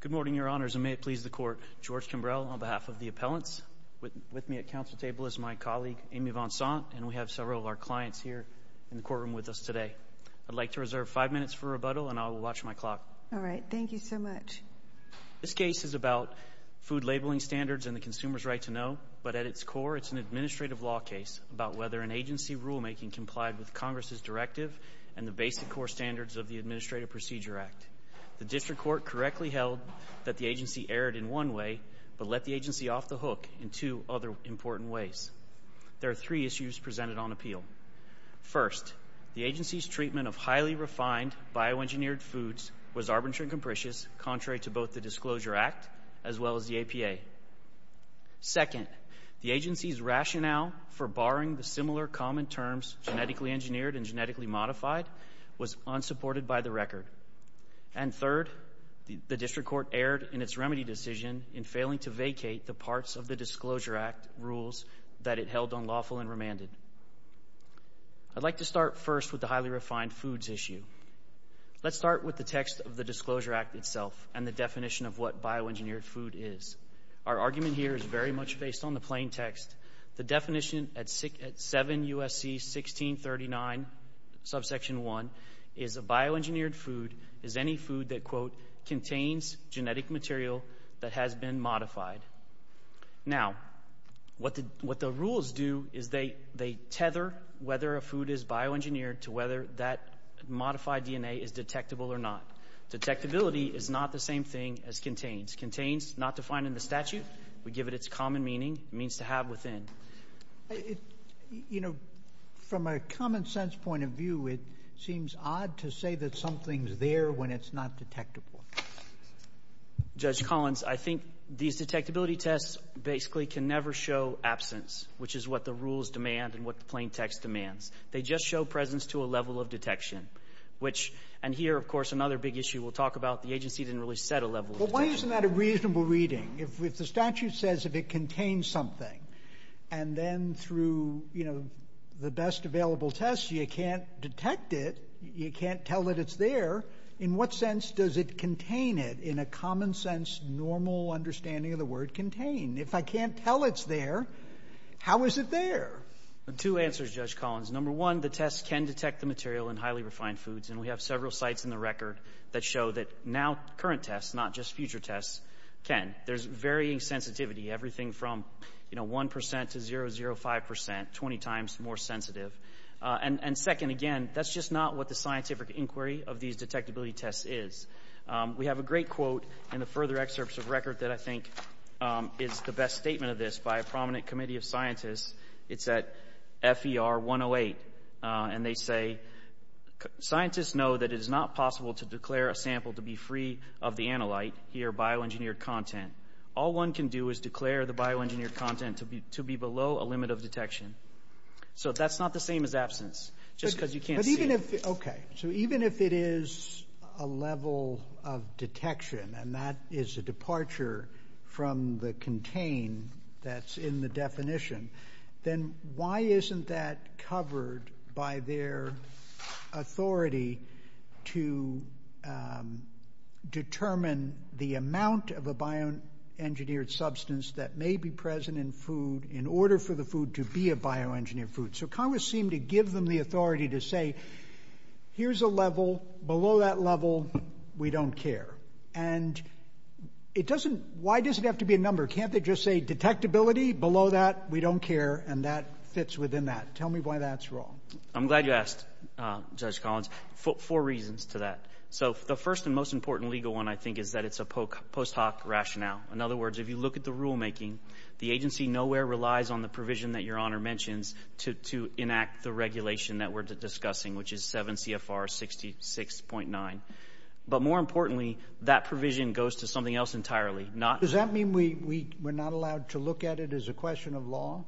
Good morning, Your Honors, and may it please the Court. George Kimbrell, on behalf of the appellants. With me at council table is my colleague, Amy Vonsant, and we have several of our clients here in the courtroom with us today. I'd like to reserve five minutes for rebuttal, and I'll watch my clock. All right. Thank you so much. This case is about food labeling standards and the consumer's right to know, but at its core it's an administrative law case about whether an agency rulemaking complied with Congress's directive and the basic core standards of the Administrative Procedure Act. The district court correctly held that the agency erred in one way but let the agency off the hook in two other important ways. There are three issues presented on appeal. First, the agency's treatment of highly refined bioengineered foods was arbitrary and capricious, contrary to both the Disclosure Act as well as the APA. Second, the agency's rationale for barring the similar common terms genetically engineered and genetically modified was unsupported by the record. And third, the district court erred in its remedy decision in failing to vacate the parts of the Disclosure Act rules that it held unlawful and remanded. I'd like to start first with the highly refined foods issue. Let's start with the text of the Disclosure Act itself and the definition of what bioengineered food is. Our argument here is very much based on the plain text. The definition at 7 U.S.C. 1639, subsection 1, is a bioengineered food is any food that, quote, contains genetic material that has been modified. Now, what the rules do is they tether whether a food is bioengineered to whether that modified DNA is detectable or not. Detectability is not the same thing as contains. Contains, not defined in the statute. We give it its common meaning. It means to have within. You know, from a common sense point of view, it seems odd to say that something's there when it's not detectable. Judge Collins, I think these detectability tests basically can never show absence, which is what the rules demand and what the plain text demands. They just show presence to a level of detection. And here, of course, another big issue we'll talk about, the agency didn't really set a level of detection. But why isn't that a reasonable reading? If the statute says if it contains something, and then through, you know, the best available tests, you can't detect it, you can't tell that it's there, in what sense does it contain it in a common sense, normal understanding of the word contain? If I can't tell it's there, how is it there? Two answers, Judge Collins. Number one, the tests can detect the material in highly refined foods. And we have several sites in the record that show that now current tests, not just future tests, can. There's varying sensitivity, everything from, you know, 1% to 0.05%, 20 times more sensitive. And second, again, that's just not what the scientific inquiry of these detectability tests is. We have a great quote in the further excerpts of record that I think is the best statement of this by a prominent committee of scientists. It's at FER 108. And they say, scientists know that it is not possible to declare a sample to be free of the analyte, here bioengineered content. All one can do is declare the bioengineered content to be below a limit of detection. So that's not the same as absence, just because you can't see it. But even if, okay, so even if it is a level of detection, and that is a departure from the contain that's in the definition, then why isn't that covered by their authority to determine the amount of a bioengineered substance that may be present in food in order for the food to be a bioengineered food? So Congress seemed to give them the authority to say, here's a level, below that level, we don't care. And it doesn't, why does it have to be a number? Can't they just say detectability below that, we don't care, and that fits within that? Tell me why that's wrong. I'm glad you asked, Judge Collins, four reasons to that. So the first and most important legal one, I think, is that it's a post hoc rationale. In other words, if you look at the rulemaking, the agency nowhere relies on the provision that Your Honor mentions to enact the regulation that we're discussing, which is 7 CFR 66.9. But more importantly, that provision goes to something else entirely. Does that mean we're not allowed to look at it as a question of law?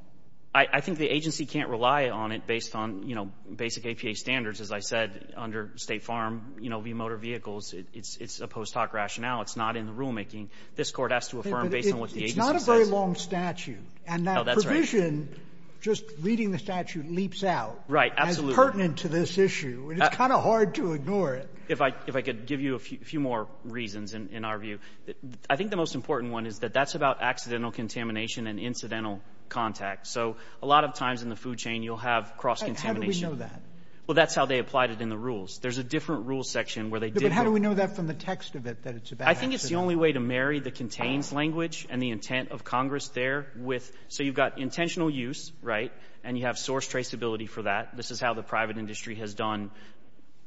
I think the agency can't rely on it based on, you know, basic APA standards. As I said, under State Farm, you know, v. Motor Vehicles, it's a post hoc rationale. It's not in the rulemaking. This Court has to affirm based on what the agency says. But it's not a very long statute. Oh, that's right. And that provision, just reading the statute, leaps out. Right, absolutely. As pertinent to this issue. And it's kind of hard to ignore it. If I could give you a few more reasons in our view. I think the most important one is that that's about accidental contamination and incidental contact. So a lot of times in the food chain, you'll have cross-contamination. How do we know that? Well, that's how they applied it in the rules. There's a different rules section where they did that. But how do we know that from the text of it, that it's a bad accident? I think it's the only way to marry the contains language and the intent of Congress there with so you've got intentional use, right, and you have source traceability for that. This is how the private industry has done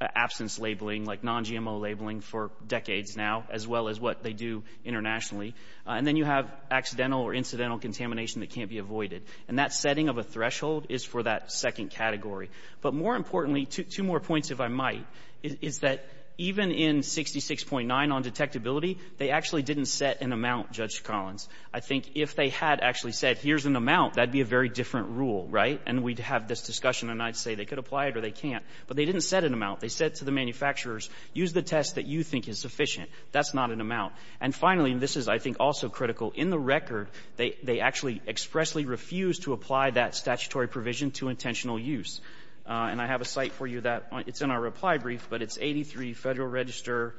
absence labeling, like non-GMO labeling for decades now, as well as what they do internationally. And then you have accidental or incidental contamination that can't be avoided. And that setting of a threshold is for that second category. But more importantly, two more points, if I might, is that even in 66.9 on detectability, they actually didn't set an amount, Judge Collins. I think if they had actually said here's an amount, that would be a very different rule, right? And we'd have this discussion, and I'd say they could apply it or they can't. But they didn't set an amount. They said to the manufacturers, use the test that you think is sufficient. That's not an amount. And finally, and this is, I think, also critical, in the record, they actually expressly refused to apply that statutory provision to intentional use. And I have a cite for you that it's in our reply brief, but it's 83 Federal Register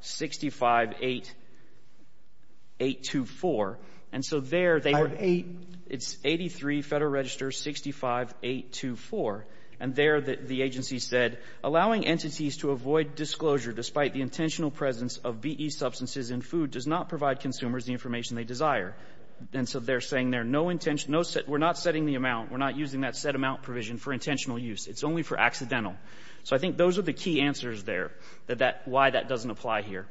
658824. And so there they were 83 Federal Register 65824. And there the agency said, Allowing entities to avoid disclosure despite the intentional presence of B.E. substances in food does not provide consumers the information they desire. And so they're saying there, no intention to set, we're not setting the amount, we're not using that set amount provision for intentional use. It's only for accidental. So I think those are the key answers there that that, why that doesn't apply here.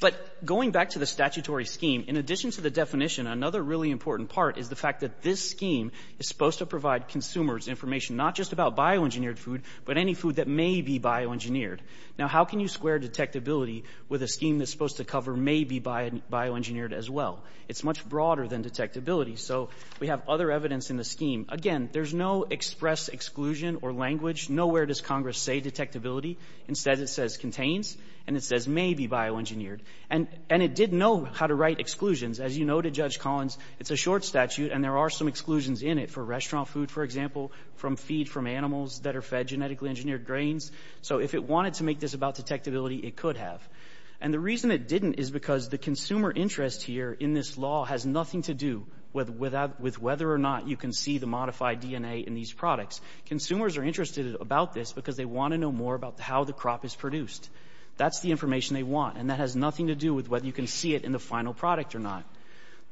But going back to the statutory scheme, in addition to the definition, another really important part is the fact that this scheme is supposed to provide consumers information not just about bioengineered food, but any food that may be bioengineered. Now, how can you square detectability with a scheme that's supposed to cover may be bioengineered as well? It's much broader than detectability. So we have other evidence in the scheme. Again, there's no express exclusion or language. Nowhere does Congress say detectability. Instead, it says contains, and it says may be bioengineered. And it did know how to write exclusions. As you know, to Judge Collins, it's a short statute and there are some exclusions in it for restaurant food, for example, from feed from animals that are fed genetically engineered grains. So if it wanted to make this about detectability, it could have. And the reason it didn't is because the consumer interest here in this law has nothing to do with whether or not you can see the modified DNA in these products. Consumers are interested about this because they want to know more about how the crop is produced. That's the information they want. And that has nothing to do with whether you can see it in the final product or not.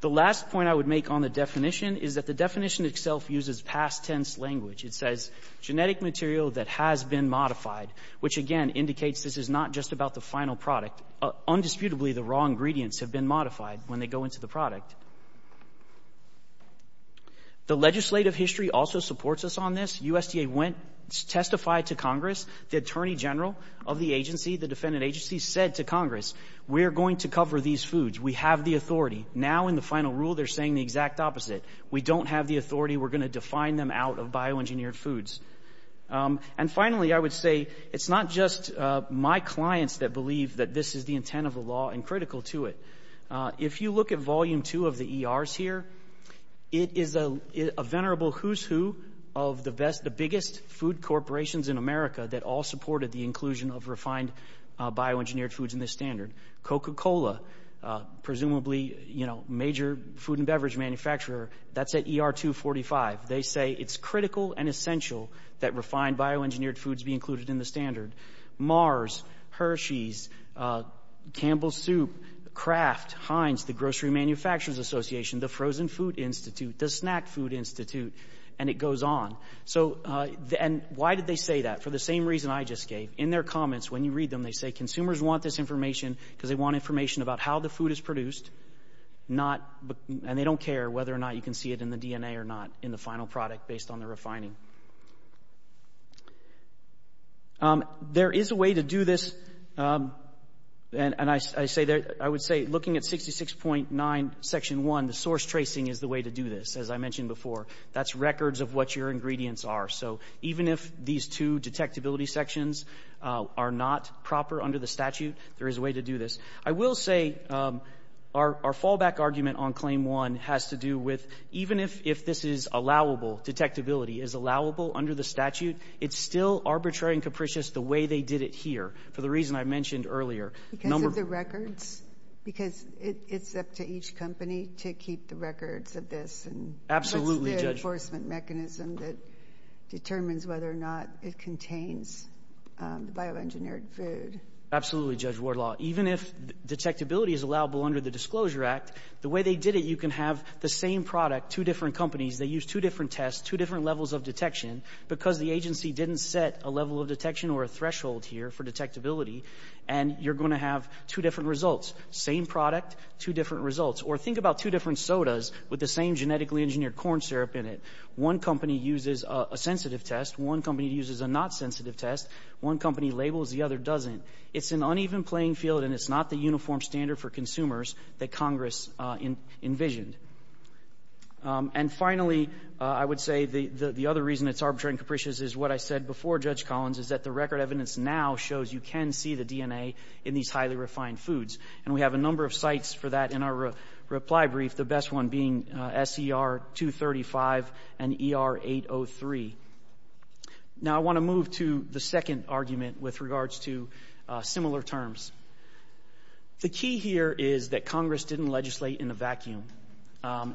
The last point I would make on the definition is that the definition itself uses past tense language. It says genetic material that has been modified, which, again, indicates this is not just about the final product. Undisputably, the raw ingredients have been modified when they go into the product. The legislative history also supports us on this. USDA went, testified to Congress. The attorney general of the agency, the defendant agency, said to Congress, we're going to cover these foods. We have the authority. Now in the final rule, they're saying the exact opposite. We don't have the authority. We're going to define them out of bioengineered foods. And finally, I would say it's not just my clients that believe that this is the intent of the law and critical to it. If you look at volume two of the ERs here, it is a venerable who's who of the best, the biggest food corporations in America that all supported the inclusion of refined bioengineered foods in this standard. Coca-Cola, presumably major food and beverage manufacturer, that's at ER 245. They say it's critical and essential that refined bioengineered foods be included in the standard. Mars, Hershey's, Campbell's Soup, Kraft, Heinz, the Grocery Manufacturers Association, the Frozen Food Institute, the Snack Food Institute, and it goes on. And why did they say that? For the same reason I just gave. In their comments, when you read them, they say consumers want this information because they want information about how the food is produced, and they don't care whether or not you can see it in the DNA or not in the final product based on the refining. There is a way to do this, and I would say looking at 66.9, section one, the source tracing is the way to do this, as I mentioned before. That's records of what your ingredients are. So even if these two detectability sections are not proper under the statute, there is a way to do this. I will say our fallback argument on claim one has to do with even if this is allowable, detectability is allowable under the statute, it's still arbitrary and capricious the way they did it here for the reason I mentioned earlier. Because of the records? Because it's up to each company to keep the records of this? Absolutely, Judge. mechanism that determines whether or not it contains bioengineered food? Absolutely, Judge Wardlaw. Even if detectability is allowable under the Disclosure Act, the way they did it, you can have the same product, two different companies, they used two different tests, two different levels of detection, because the agency didn't set a level of detection or a threshold here for detectability, and you're going to have two different results. Same product, two different results. Or think about two different sodas with the same genetically engineered corn syrup in it. One company uses a sensitive test, one company uses a not sensitive test, one company labels, the other doesn't. It's an uneven playing field, and it's not the uniform standard for consumers that Congress envisioned. And finally, I would say the other reason it's arbitrary and capricious is what I said before Judge Collins, is that the record evidence now shows you can see the DNA in these highly refined foods. And we have a number of sites for that in our reply brief, the best one being SER-235 and ER-803. Now I want to move to the second argument with regards to similar terms. The key here is that Congress didn't legislate in a vacuum.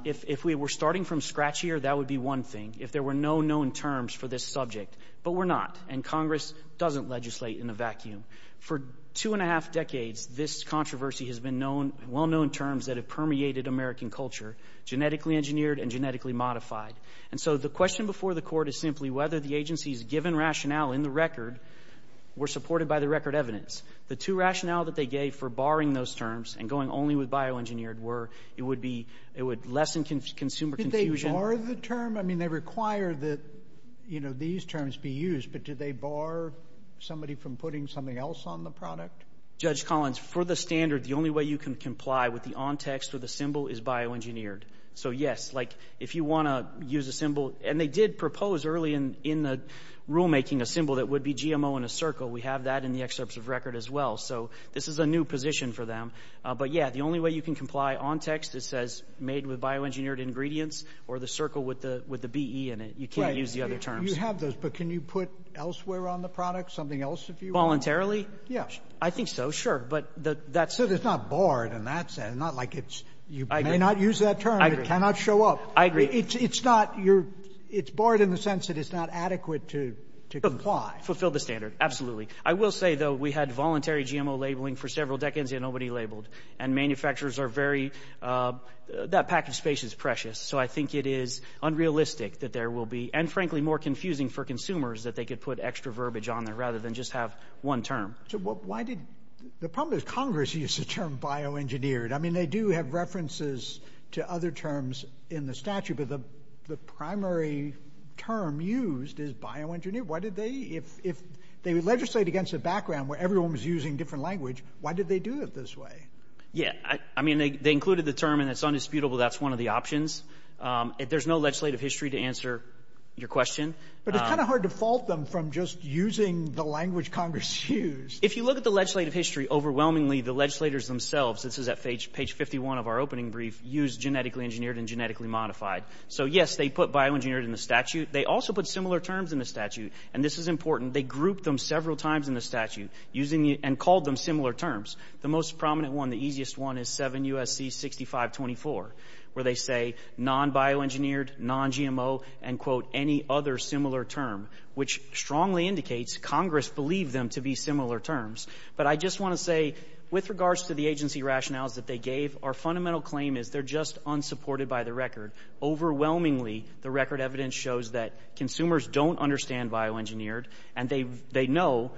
If we were starting from scratch here, that would be one thing, if there were no known terms for this subject. But we're not, and Congress doesn't legislate in a vacuum. For two and a half years, we've had well-known terms that have permeated American culture, genetically engineered and genetically modified. And so the question before the court is simply whether the agency's given rationale in the record were supported by the record evidence. The two rationale that they gave for barring those terms and going only with bioengineered were it would be, it would lessen consumer confusion. Did they bar the term? I mean, they require that, you know, these terms be used, but did they bar somebody from putting something else on the product? Judge Collins, for the standard, the only way you can comply with the on text or the symbol is bioengineered. So yes, like if you want to use a symbol, and they did propose early in the rulemaking a symbol that would be GMO in a circle. We have that in the excerpts of record as well. So this is a new position for them. But yeah, the only way you can comply on text, it says made with bioengineered ingredients or the circle with the BE in it. You can't use the other terms. Right. You have those, but can you put elsewhere on the product, something else if you want? Voluntarily? I think so, sure. But that's the thing. So it's not barred, and that's not like it's you may not use that term. I agree. It cannot show up. I agree. It's not your – it's barred in the sense that it's not adequate to comply. Fulfill the standard, absolutely. I will say, though, we had voluntary GMO labeling for several decades, and nobody labeled. And manufacturers are very – that pack of space is precious. So I think it is unrealistic that there will be, and frankly, more confusing for consumers that they could put extra verbiage on there rather than just have one term. So why did – the problem is Congress used the term bioengineered. I mean, they do have references to other terms in the statute, but the primary term used is bioengineered. Why did they – if they legislate against a background where everyone was using different language, why did they do it this way? Yeah. I mean, they included the term, and it's undisputable that's one of the options. There's no legislative history to answer your question. But it's kind of hard to fault them from just using the language Congress used. If you look at the legislative history, overwhelmingly, the legislators themselves – this is at page 51 of our opening brief – used genetically engineered and genetically modified. So, yes, they put bioengineered in the statute. They also put similar terms in the statute. And this is important. They grouped them several times in the statute using – and called them similar terms. The most prominent one, the easiest one, is 7 U.S.C. 6524, where they say non-bioengineered, non-GMO, and, quote, any other similar term, which strongly indicates Congress believed them to be similar terms. But I just want to say, with regards to the agency rationales that they gave, our fundamental claim is they're just unsupported by the record. Overwhelmingly, the record evidence shows that consumers don't understand bioengineered, and they know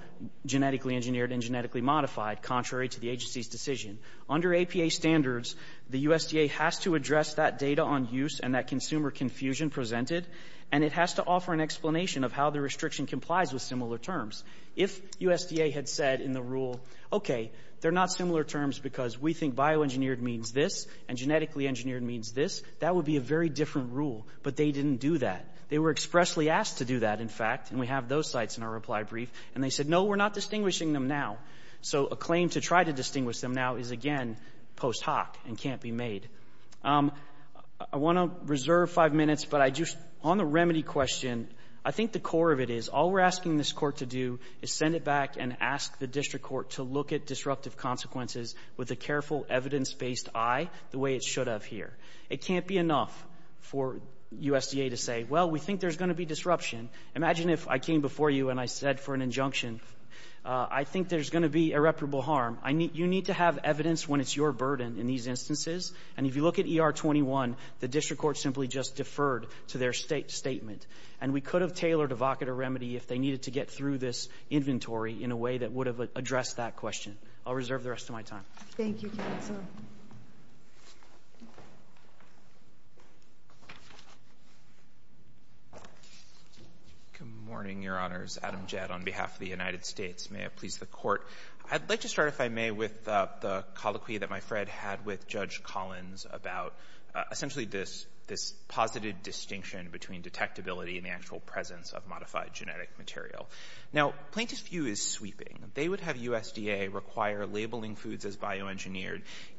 genetically engineered and genetically modified, contrary to the agency's decision. Under APA standards, the USDA has to address that data on use and that consumer confusion presented, and it has to offer an explanation of how the restriction complies with similar terms. If USDA had said in the rule, okay, they're not similar terms because we think bioengineered means this, and genetically engineered means this, that would be a very different rule. But they didn't do that. They were expressly asked to do that, in fact, and we have those sites in our reply brief. And they said, no, we're not distinguishing them now. So a claim to try to distinguish them now is, again, post hoc and can't be made. I want to reserve five minutes, but on the remedy question, I think the core of it is, all we're asking this Court to do is send it back and ask the district court to look at disruptive consequences with a careful, evidence-based eye, the way it should have here. It can't be enough for USDA to say, well, we think there's going to be disruption. Imagine if I came before you and I said for an injunction, I think there's going to be irreparable harm. You need to have evidence when it's your burden in these instances. And if you look at ER-21, the district court simply just deferred to their statement. And we could have tailored evocator remedy if they needed to get through this inventory in a way that would have addressed that question. I'll reserve the rest of my time. Thank you, counsel. Good morning, Your Honors. Adam Jett on behalf of the United States. May it please the Court. I'd like to start, if I may, with the colloquy that my friend had with Judge Collins about essentially this positive distinction between detectability and the actual presence of modified genetic material. Now, plaintiff's view is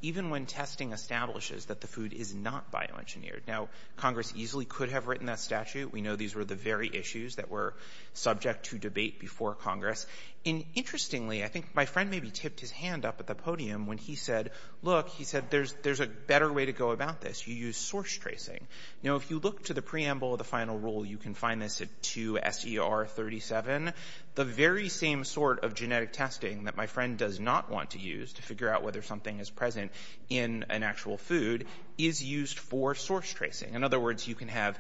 even when testing establishes that the food is not bioengineered. Now, Congress easily could have written that statute. We know these were the very issues that were subject to debate before Congress. And interestingly, I think my friend maybe tipped his hand up at the podium when he said, look, he said, there's a better way to go about this. You use source tracing. Now, if you look to the preamble of the final rule, you can find this at 2 S.E.R. 37. The very same sort of genetic testing that my friend does not want to use to figure out whether something is present in an actual food is used for source tracing. In other words, you can have,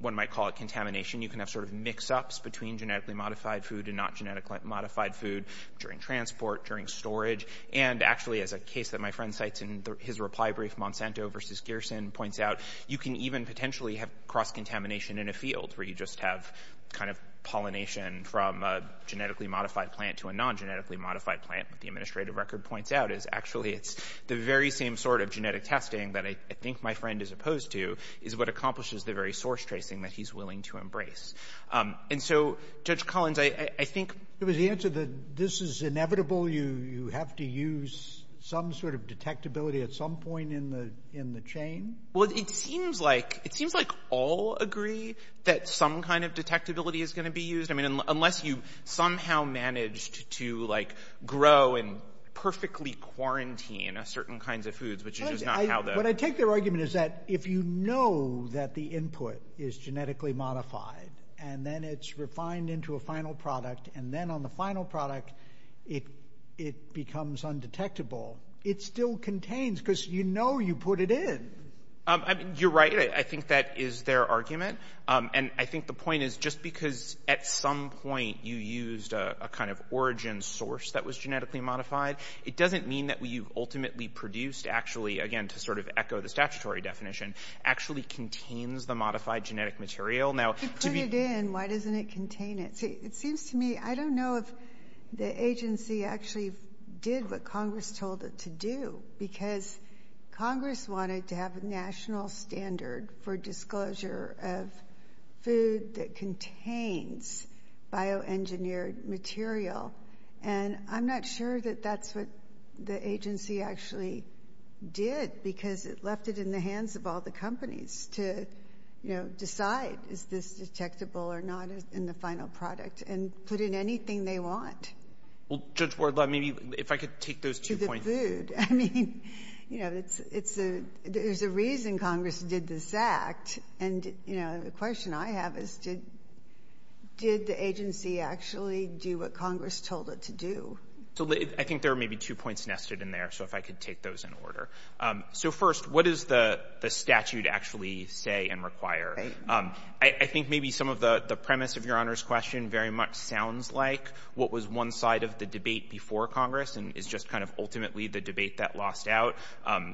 one might call it contamination. You can have sort of mix-ups between genetically modified food and not genetically modified food during transport, during storage. And actually, as a case that my friend cites in his reply brief, Monsanto v. Gerson points out, you can even potentially have cross-contamination in a field where you just have kind of pollination from a genetically modified plant to a non-genetically modified plant. What the administrative record points out is actually it's the very same sort of genetic testing that I think my friend is opposed to is what accomplishes the very source tracing that he's willing to embrace. And so, Judge Collins, I think — JUSTICE SCALIA. It was the answer that this is inevitable. You have to use some sort of detectability at some point in the chain? MR. CLEMENT. Well, it seems like all agree that some kind of detectability is going to be used. I mean, unless you somehow managed to, like, grow and perfectly quarantine certain kinds of foods, which is just not how the — JUSTICE SCALIA. What I take their argument is that if you know that the input is genetically modified, and then it's refined into a final product, and then on the final product it becomes undetectable, it still contains, because you know you put it in. MR. CLEMENT. You're right. I think that is their argument. And I think the point is just because at some point you used a kind of origin source that was genetically modified, it doesn't mean that what you've ultimately produced actually, again, to sort of echo the statutory definition, actually contains the modified genetic material. Now, to be — JUSTICE SOTOMAYOR. If you put it in, why doesn't it contain it? See, it seems to me, I don't know if the agency actually did what Congress told it to do, because Congress wanted to have a national standard for disclosure of food that contains bioengineered material. And I'm not sure that that's what the agency actually did, because it left it in the hands of all the companies to, you know, decide is this detectable or not in the final product, and put in anything they want. MR. CLEMENT. Well, Judge Wardlaw, maybe if I could take those two points. JUSTICE SOTOMAYOR. To the food. I mean, you know, it's a — there's a reason Congress did this act. And, you know, the question I have is did the agency actually do what Congress told it to do? MR. CLEMENT. So I think there are maybe two points nested in there, so if I could take those in order. So first, what does the statute actually say and require? I think maybe some of the premise of Your Honor's question very much sounds like what was one side of the debate before Congress, and is just kind of ultimately the debate that lost out.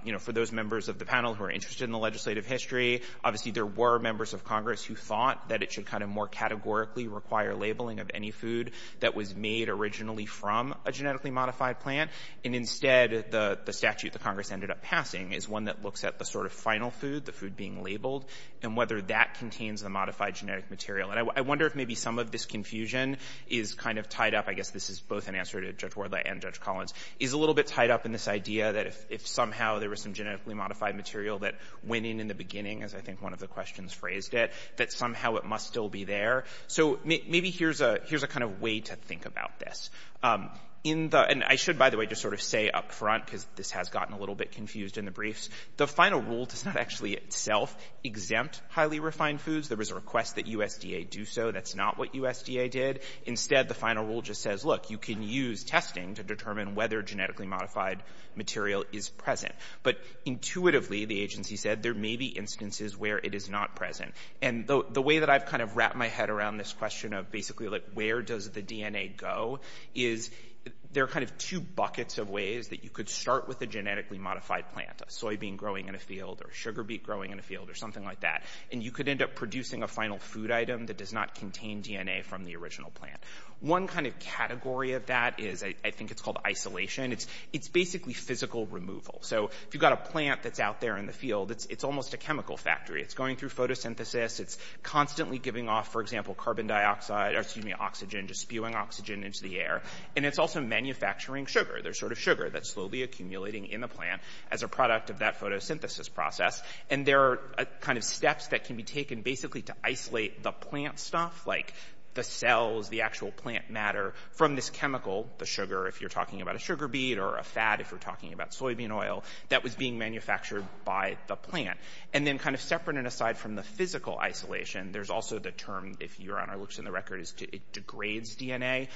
You know, for those members of the panel who are interested in the legislative history, obviously there were members of Congress who thought that it should kind of more categorically require labeling of any food that was made originally from a genetically modified plant. And instead, the statute that Congress ended up passing is one that looks at the sort of final food, the food being labeled, and whether that contains the modified genetic material. And I wonder if maybe some of this confusion is kind of tied up — I guess this is both an answer to Judge Wardlaw and Judge Collins — is a little bit tied up in this idea that if somehow there was some genetically modified material that went in in the beginning, as I think one of the questions phrased it, that somehow it must still be there. So maybe here's a kind of way to think about this. In the — and I should, by the way, just sort of say up front, because this has gotten a little bit confused in the briefs — the final rule does not actually itself exempt highly refined foods. There was a request that USDA do so. That's not what USDA did. Instead, the final rule just says, look, you can use testing to determine whether genetically modified material is present. But intuitively, the agency said, there may be instances where it is not present. And the way that I've kind of wrapped my head around this question of basically, like, where does the DNA go is there are kind of two buckets of ways that you could start with a genetically modified plant — a soybean growing in a field or a sugar beet growing in a field or something like that — and you could end up producing a final food item that does not contain DNA from the original plant. One kind of category of that is — I think it's called isolation. It's basically physical removal. So if you've got a plant that's out there in the field, it's almost a chemical factory. It's going through photosynthesis. It's constantly giving off, for example, carbon dioxide — or, excuse me, oxygen, just spewing oxygen into the air. And it's also manufacturing sugar. There's sort of sugar that's slowly accumulating in the plant as a product of that photosynthesis process. And there are kind of steps that can be taken basically to isolate the plant stuff, like the cells, the actual plant matter, from this chemical — the sugar, if you're talking about a sugar beet, or a fat, if you're talking about soybean oil — that was being manufactured by the plant. And then kind of separate and aside from the physical isolation, there's also the term — if you're on our looks in the record — is it degrades DNA.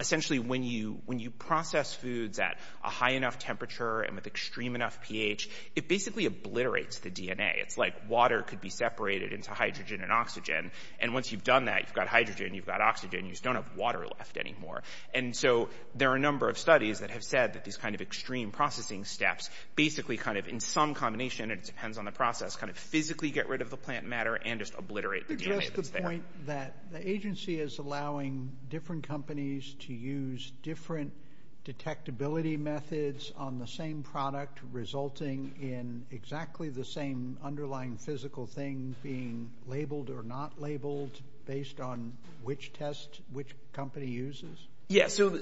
Essentially, when you process foods at a high enough temperature and with extreme enough pH, it basically obliterates the DNA. It's like water could be separated into hydrogen and oxygen. And once you've done that, you've got hydrogen, you've got oxygen, you just don't have water left anymore. And so there are a number of studies that have said that these kind of extreme processing steps basically kind of, in some combination — and it depends on the process — kind of physically get rid of the plant matter and just obliterate the DNA that's there. You addressed the point that the agency is allowing different companies to use different detectability methods on the same product, resulting in exactly the same underlying physical thing being labeled or not labeled based on which test which company uses? Yeah, so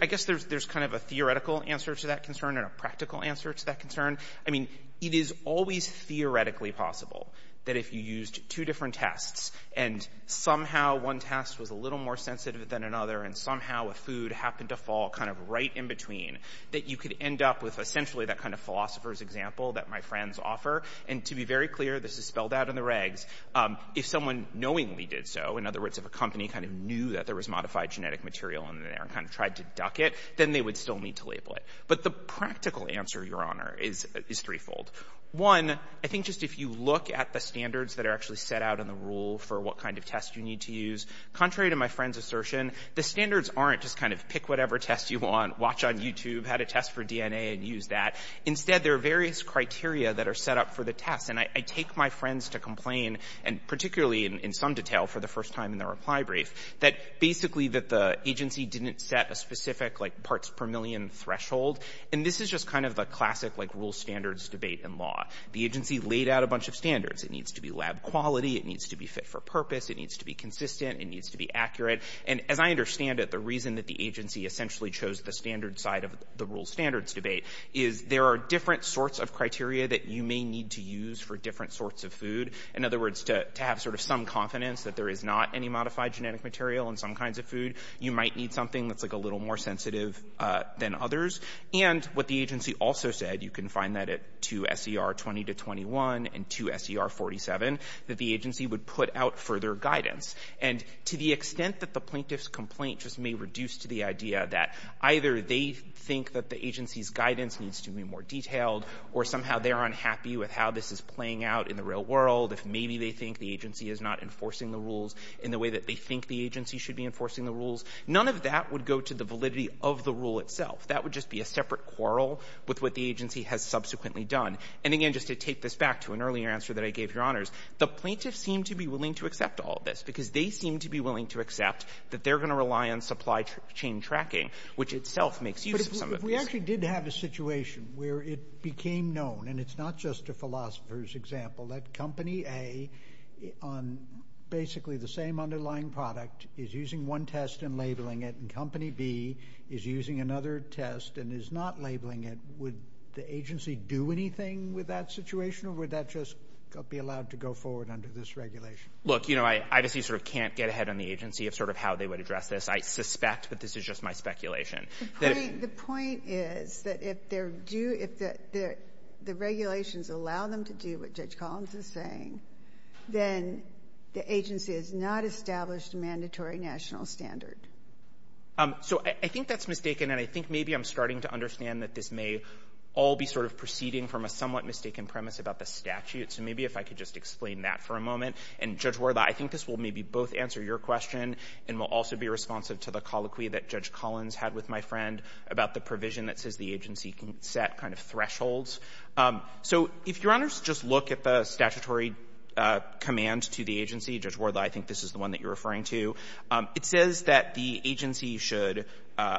I guess there's kind of a theoretical answer to that concern and a practical answer to that concern. I mean, it is always theoretically possible that if you used two different tests and somehow one test was a little more sensitive than another, and somehow a food happened to fall kind of right in between, that you could end up with essentially that kind of philosopher's example that my friends offer. And to be very clear, this is spelled out in the regs, if someone knowingly did so, in other words, if a company kind of knew that there was modified genetic material in there and kind of tried to duck it, then they would still need to label it. But the practical answer, Your Honor, is threefold. One, I think just if you look at the standards that are actually set out in the rule for what kind of test you need to use, contrary to my friend's assertion, the standards aren't just kind of pick whatever test you want, watch on YouTube, had a test for DNA and use that. Instead, there are various criteria that are set up for the test. And I take my friends to complain, and particularly in some detail for the first time in the reply brief, that basically that the agency didn't set a specific like parts per million threshold. And this is just kind of the classic like rule standards debate in law. The agency laid out a bunch of standards. It needs to be lab quality. It needs to be fit for purpose. It needs to be consistent. It needs to be accurate. And as I understand it, the reason that the agency essentially chose the standard side of the rule standards debate is there are different sorts of criteria that you may need to use for different sorts of food. In other words, to have sort of some confidence that there is not any modified genetic material in some kinds of food, you might need something that's like a little more sensitive than others. And what the agency also said, you can find that at 2 S.E.R. 20 to 21 and 2 S.E.R. 47, that the agency would put out further guidance. And to the extent that the plaintiff's complaint just may reduce to the idea that either they think that the agency's guidance needs to be more detailed or somehow they're unhappy with how this is playing out in the real world, if maybe they think the agency is not enforcing the rules in the way that they think the agency should be enforcing the rules, none of that would go to the validity of the rule itself. That would just be a separate quarrel with what the agency has subsequently done. And again, just to take this back to an earlier answer that I gave, Your Honors, the plaintiffs seem to be willing to accept all of this because they seem to be willing to accept that they're going to rely on supply chain tracking, which itself makes use of some of this. But if we actually did have a situation where it became known, and it's not just a philosopher's example, that Company A on basically the same underlying product is using one test and labeling it, and Company B is using another test and is not labeling it, would the agency do anything with that situation or would that just be allowed to go forward under this regulation? Look, you know, I obviously sort of can't get ahead on the agency of sort of how they would address this. I suspect that this is just my speculation. The point is that if there do — if the regulations allow them to do what Judge Collins is saying, then the agency has not established a mandatory national standard. So I think that's mistaken, and I think maybe I'm starting to understand that this may all be sort of proceeding from a somewhat mistaken premise about the statute. So maybe if I could just explain that for a moment. And, Judge Wardlaw, I think this will maybe both answer your question and will also be responsive to the colloquy that Judge Collins had with my friend about the provision that says the agency can set kind of thresholds. So if Your Honors just look at the statutory command to the agency — Judge Wardlaw, I think this is the one that you're referring to — it says that the agency should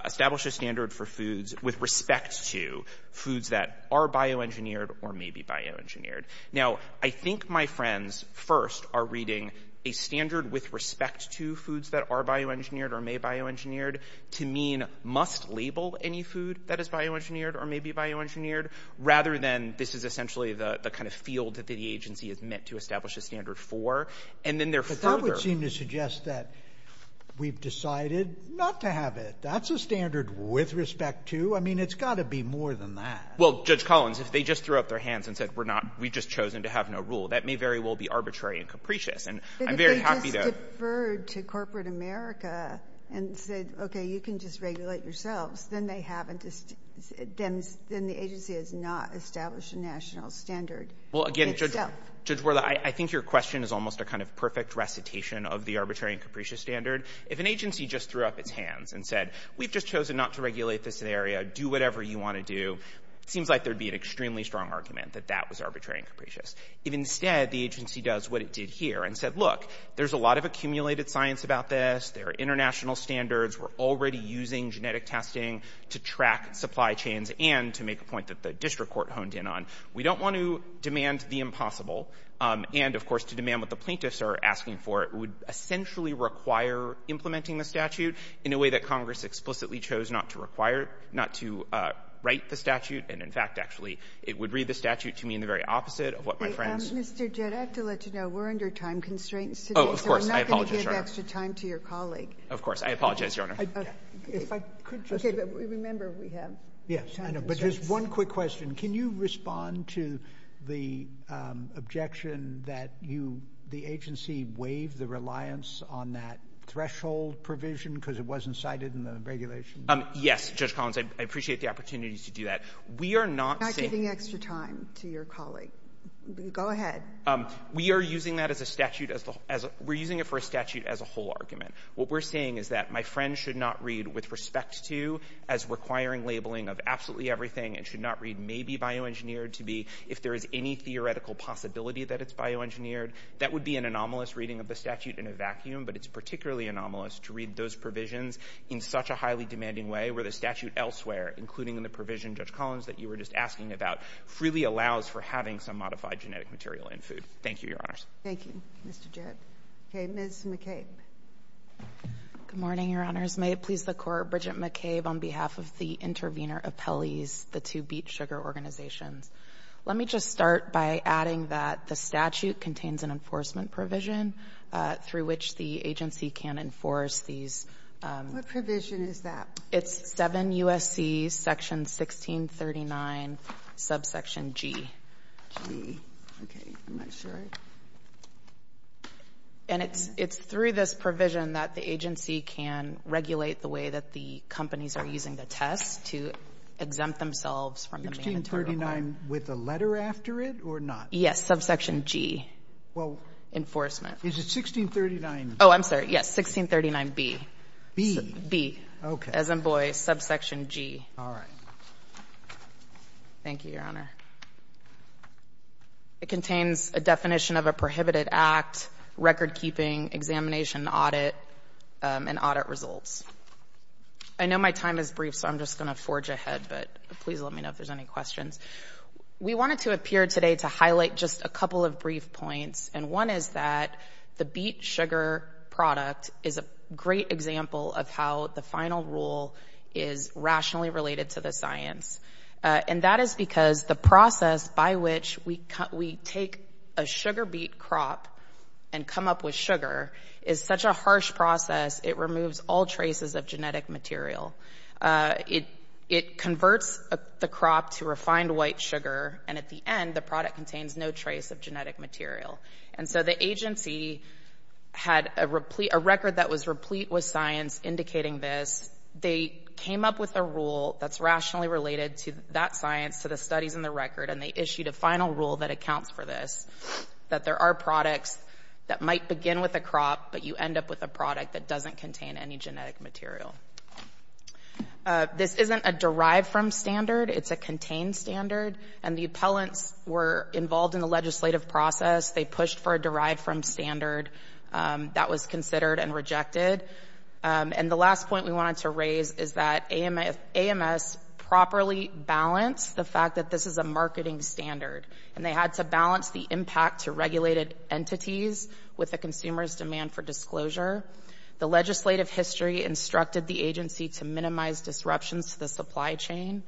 establish a standard for foods with respect to foods that are bioengineered or may be bioengineered. Now, I think my friends first are reading a standard with respect to foods that are bioengineered or may be bioengineered to mean must label any food that is bioengineered or may be bioengineered, rather than this is essentially the kind of field that the agency is meant to establish a standard for. And then there are further — But that would seem to suggest that we've decided not to have it. That's a standard with respect to. I mean, it's got to be more than that. Well, Judge Collins, if they just threw up their hands and said we're not — we've just chosen to have no rule, that may very well be arbitrary and capricious. And I'm very happy to — But if they just deferred to corporate America and said, okay, you can just regulate yourselves, then they haven't — then the agency has not established a national standard itself. Well, again, Judge — Judge Wardlaw, I think your question is almost a kind of perfect recitation of the arbitrary and capricious standard. If an agency just threw up its hands and said we've just chosen not to regulate this area, do whatever you want to do, it seems like there would be an extremely strong argument that that was arbitrary and capricious. If instead the agency does what it did here and said, look, there's a lot of accumulated science about this, there are international standards, we're already using genetic testing to track supply chains and to make a point that the district court honed in on, we don't want to demand the impossible. And, of course, to demand what the plaintiffs are asking for, it would essentially require implementing the statute in a way that Congress explicitly chose not to require not to write the statute. And, in fact, actually, it would read the statute to me in the very opposite of what my friends — Mr. Jett, I have to let you know we're under time constraints today. Oh, of course. I apologize, Your Honor. So we're not going to give extra time to your colleague. Of course. I apologize, Your Honor. If I could just — Okay. But remember, we have time constraints. Yes. I know. But just one quick question. Can you respond to the objection that you — the agency waived the reliance on that threshold provision because it wasn't cited in the regulation? Yes, Judge Collins. I appreciate the opportunity to do that. We are not saying — We're not giving extra time to your colleague. Go ahead. We are using that as a statute as the — we're using it for a statute as a whole argument. What we're saying is that my friend should not read with respect to as requiring labeling of absolutely everything and should not read maybe bioengineered to be if there is any theoretical possibility that it's bioengineered. That would be an anomalous reading of the statute in a vacuum, but it's particularly anomalous to read those provisions in such a highly demanding way where the statute elsewhere, including in the provision, Judge Collins, that you were just asking about, freely allows for having some modified genetic material in food. Thank you, Your Honors. Thank you, Mr. Jedd. Okay. Ms. McCabe. Good morning, Your Honors. May it please the Court, Bridget McCabe, on behalf of the intervener appellees, the two beet sugar organizations. Let me just start by adding that the statute contains an enforcement provision through which the agency can enforce these. What provision is that? It's 7 U.S.C. section 1639, subsection G. G. Okay. I'm not sure. And it's through this provision that the agency can regulate the way that the companies are using the test to exempt themselves from the main material. 1639 with a letter after it or not? Yes. Subsection G. Well — I'm sorry. Is it 1639? Oh, I'm sorry. Yes. 1639B. B? B. Okay. As in boy, subsection G. All right. Thank you, Your Honor. It contains a definition of a prohibited act, recordkeeping, examination, audit, and audit results. I know my time is brief, so I'm just going to forge ahead, but please let me know if there's any questions. We wanted to appear today to highlight just a couple of brief points. And one is that the beet sugar product is a great example of how the final rule is rationally related to the science. And that is because the process by which we take a sugar beet crop and come up with sugar is such a harsh process, it removes all traces of genetic material. It converts the crop to refined white sugar, and at the end, the product contains no trace of genetic material. And so the agency had a record that was replete with science indicating this. They came up with a rule that's rationally related to that science, to the studies in the record, and they issued a final rule that accounts for this, that there are products that might begin with a crop, but you end up with a product that doesn't contain any genetic material. This isn't a derived-from standard. It's a contained standard. And the appellants were involved in the legislative process. They pushed for a derived-from standard. That was considered and rejected. And the last point we wanted to raise is that AMS properly balanced the fact that this is a marketing standard, and they had to balance the impact to regulated entities with the consumer's demand for disclosure. The legislative history instructed the agency to minimize disruptions to the supply chain.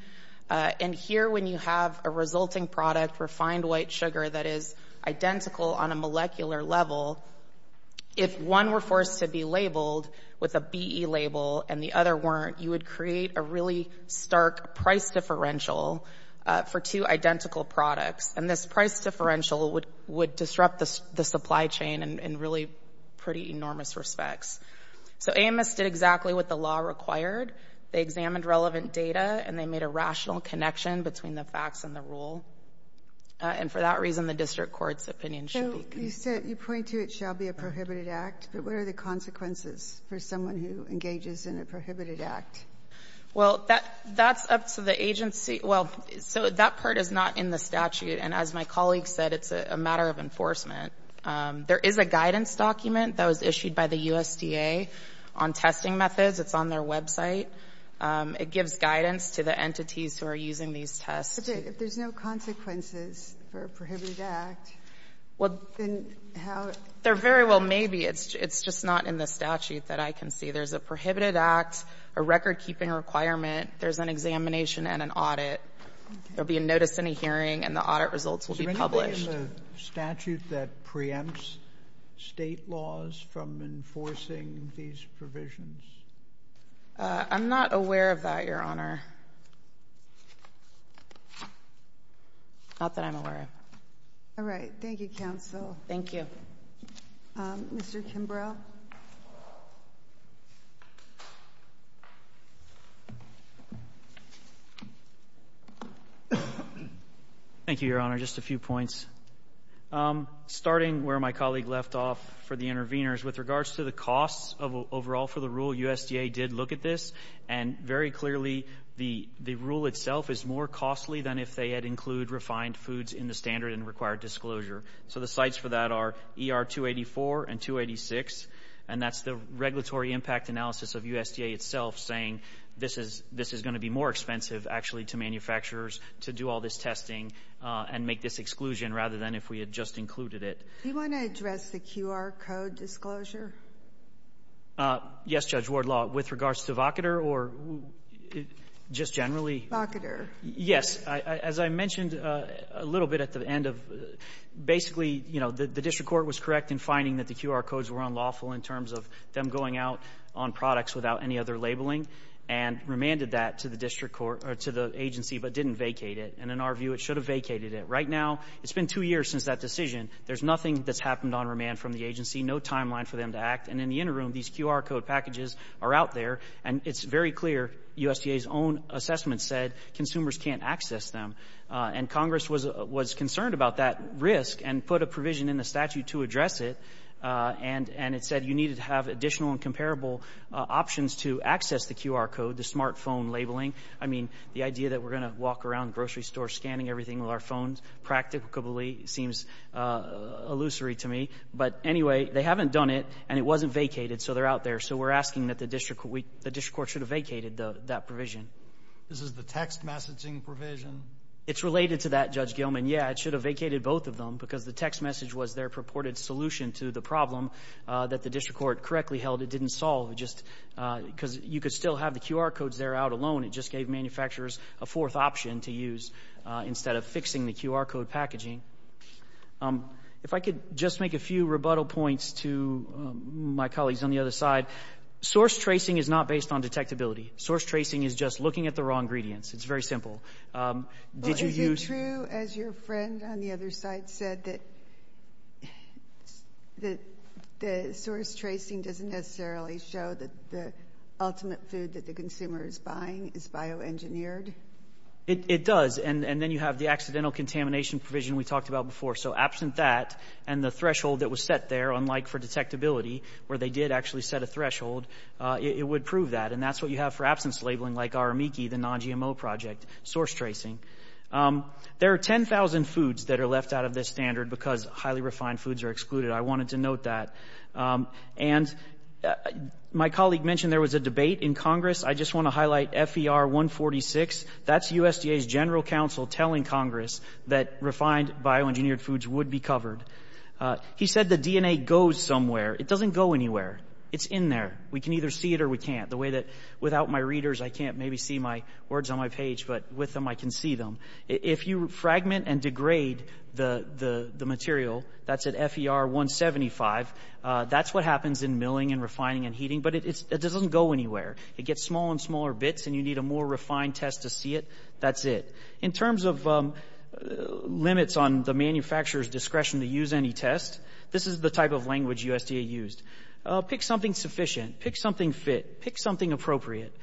And here, when you have a resulting product, refined white sugar, that is identical on a molecular level, if one were forced to be labeled with a BE label and the other weren't, you would create a really stark price differential for two identical products. And this price differential would disrupt the supply chain in really pretty enormous respects. So AMS did exactly what the law required. They examined relevant data, and they made a rational connection between the facts and the rule. And for that reason, the district court's opinion should be considered. So you said you point to it shall be a prohibited act, but what are the consequences for someone who engages in a prohibited act? Well, that's up to the agency. Well, so that part is not in the statute. And as my colleague said, it's a matter of enforcement. There is a guidance document that was issued by the USDA on testing methods. It's on their website. It gives guidance to the entities who are using these tests. But if there's no consequences for a prohibited act, then how? There very well may be. It's just not in the statute that I can see. There's a prohibited act, a recordkeeping requirement. There's an examination and an audit. There will be a notice and a hearing, and the audit results will be published. Is there anything in the statute that preempts state laws from enforcing these provisions? I'm not aware of that, Your Honor. Not that I'm aware of. All right. Thank you, counsel. Thank you. Mr. Kimbrough. Thank you, Your Honor. Just a few points. Starting where my colleague left off for the interveners, with regards to the costs overall for the rule, USDA did look at this. And very clearly, the rule itself is more costly than if they had included refined foods in the standard and required disclosure. So the sites for that are ER-284 and 286. And that's the regulatory impact analysis of USDA itself saying this is going to be more expensive, actually, to manufacturers to do all this testing and make this exclusion rather than if we had just included it. Do you want to address the QR code disclosure? Yes, Judge Wardlaw. With regards to Vocoder or just generally? Vocoder. Yes. As I mentioned a little bit at the end of basically, you know, the district court was correct in finding that the QR codes were unlawful in terms of them going out on products without any other labeling and remanded that to the district court or to the agency but didn't vacate it. And in our view, it should have vacated it. Right now, it's been two years since that decision. There's nothing that's happened on remand from the agency, no timeline for them to act. And in the interim, these QR code packages are out there. And it's very clear USDA's own assessment said consumers can't access them. And Congress was concerned about that risk and put a provision in the statute to address it. And it said you needed to have additional and comparable options to access the QR code, the smartphone labeling. I mean, the idea that we're going to walk around the grocery store scanning everything with our phones practicably seems illusory to me. But anyway, they haven't done it, and it wasn't vacated, so they're out there. So we're asking that the district court should have vacated that provision. This is the text messaging provision? It's related to that, Judge Gilman. Yeah, it should have vacated both of them because the text message was their purported solution to the problem that the district court correctly held it didn't solve. Just because you could still have the QR codes there out alone. It just gave manufacturers a fourth option to use instead of fixing the QR code packaging. If I could just make a few rebuttal points to my colleagues on the other side. Source tracing is not based on detectability. Source tracing is just looking at the raw ingredients. It's very simple. Is it true, as your friend on the other side said, that the source tracing doesn't necessarily show that the ultimate food that the consumer is buying is bioengineered? It does. And then you have the accidental contamination provision we talked about before. So absent that and the threshold that was set there, unlike for detectability, where they did actually set a threshold, it would prove that. And that's what you have for absence labeling, like ARAMIKI, the non-GMO project, source tracing. There are 10,000 foods that are left out of this standard because highly refined foods are excluded. I wanted to note that. And my colleague mentioned there was a debate in Congress. I just want to highlight FER 146. That's USDA's general counsel telling Congress that refined, bioengineered foods would be covered. He said the DNA goes somewhere. It doesn't go anywhere. It's in there. We can either see it or we can't. The way that without my readers I can't maybe see my words on my page, but with them I can see them. If you fragment and degrade the material, that's at FER 175, that's what happens in milling and refining and heating. But it doesn't go anywhere. It gets smaller and smaller bits and you need a more refined test to see it. That's it. In terms of limits on the manufacturer's discretion to use any test, this is the type of language USDA used. Pick something sufficient. Pick something fit. Pick something appropriate.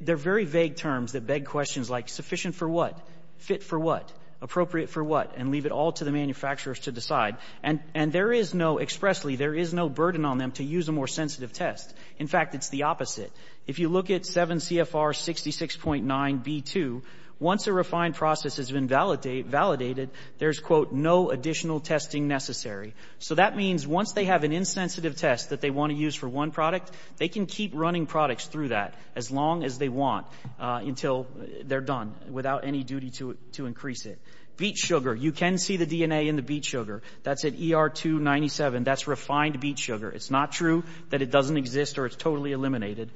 They're very vague terms that beg questions like sufficient for what, fit for what, appropriate for what, and leave it all to the manufacturers to decide. And there is no expressly, there is no burden on them to use a more sensitive test. In fact, it's the opposite. If you look at 7 CFR 66.9 B2, once a refined process has been validated, there's quote, no additional testing necessary. So that means once they have an insensitive test that they want to use for one product, they can keep running products through that as long as they want until they're done without any duty to increase it. Beet sugar. You can see the DNA in the beet sugar. That's at ER 297. That's refined beet sugar. It's not true that it doesn't exist or it's totally eliminated.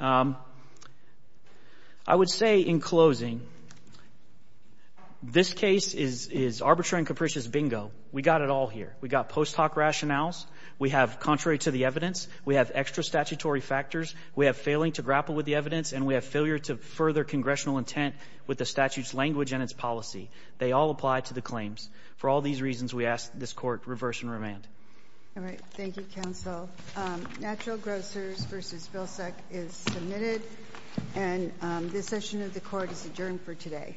I would say in closing, this case is arbitrary and capricious bingo. We got it all here. We got post hoc rationales. We have contrary to the evidence. We have extra statutory factors. We have failing to grapple with the evidence. And we have failure to further congressional intent with the statute's language and its policy. They all apply to the claims. For all these reasons, we ask this Court reverse and remand. All right. Thank you, Counsel. Natural Grocers v. Vilsack is submitted. And this session of the Court is adjourned for today.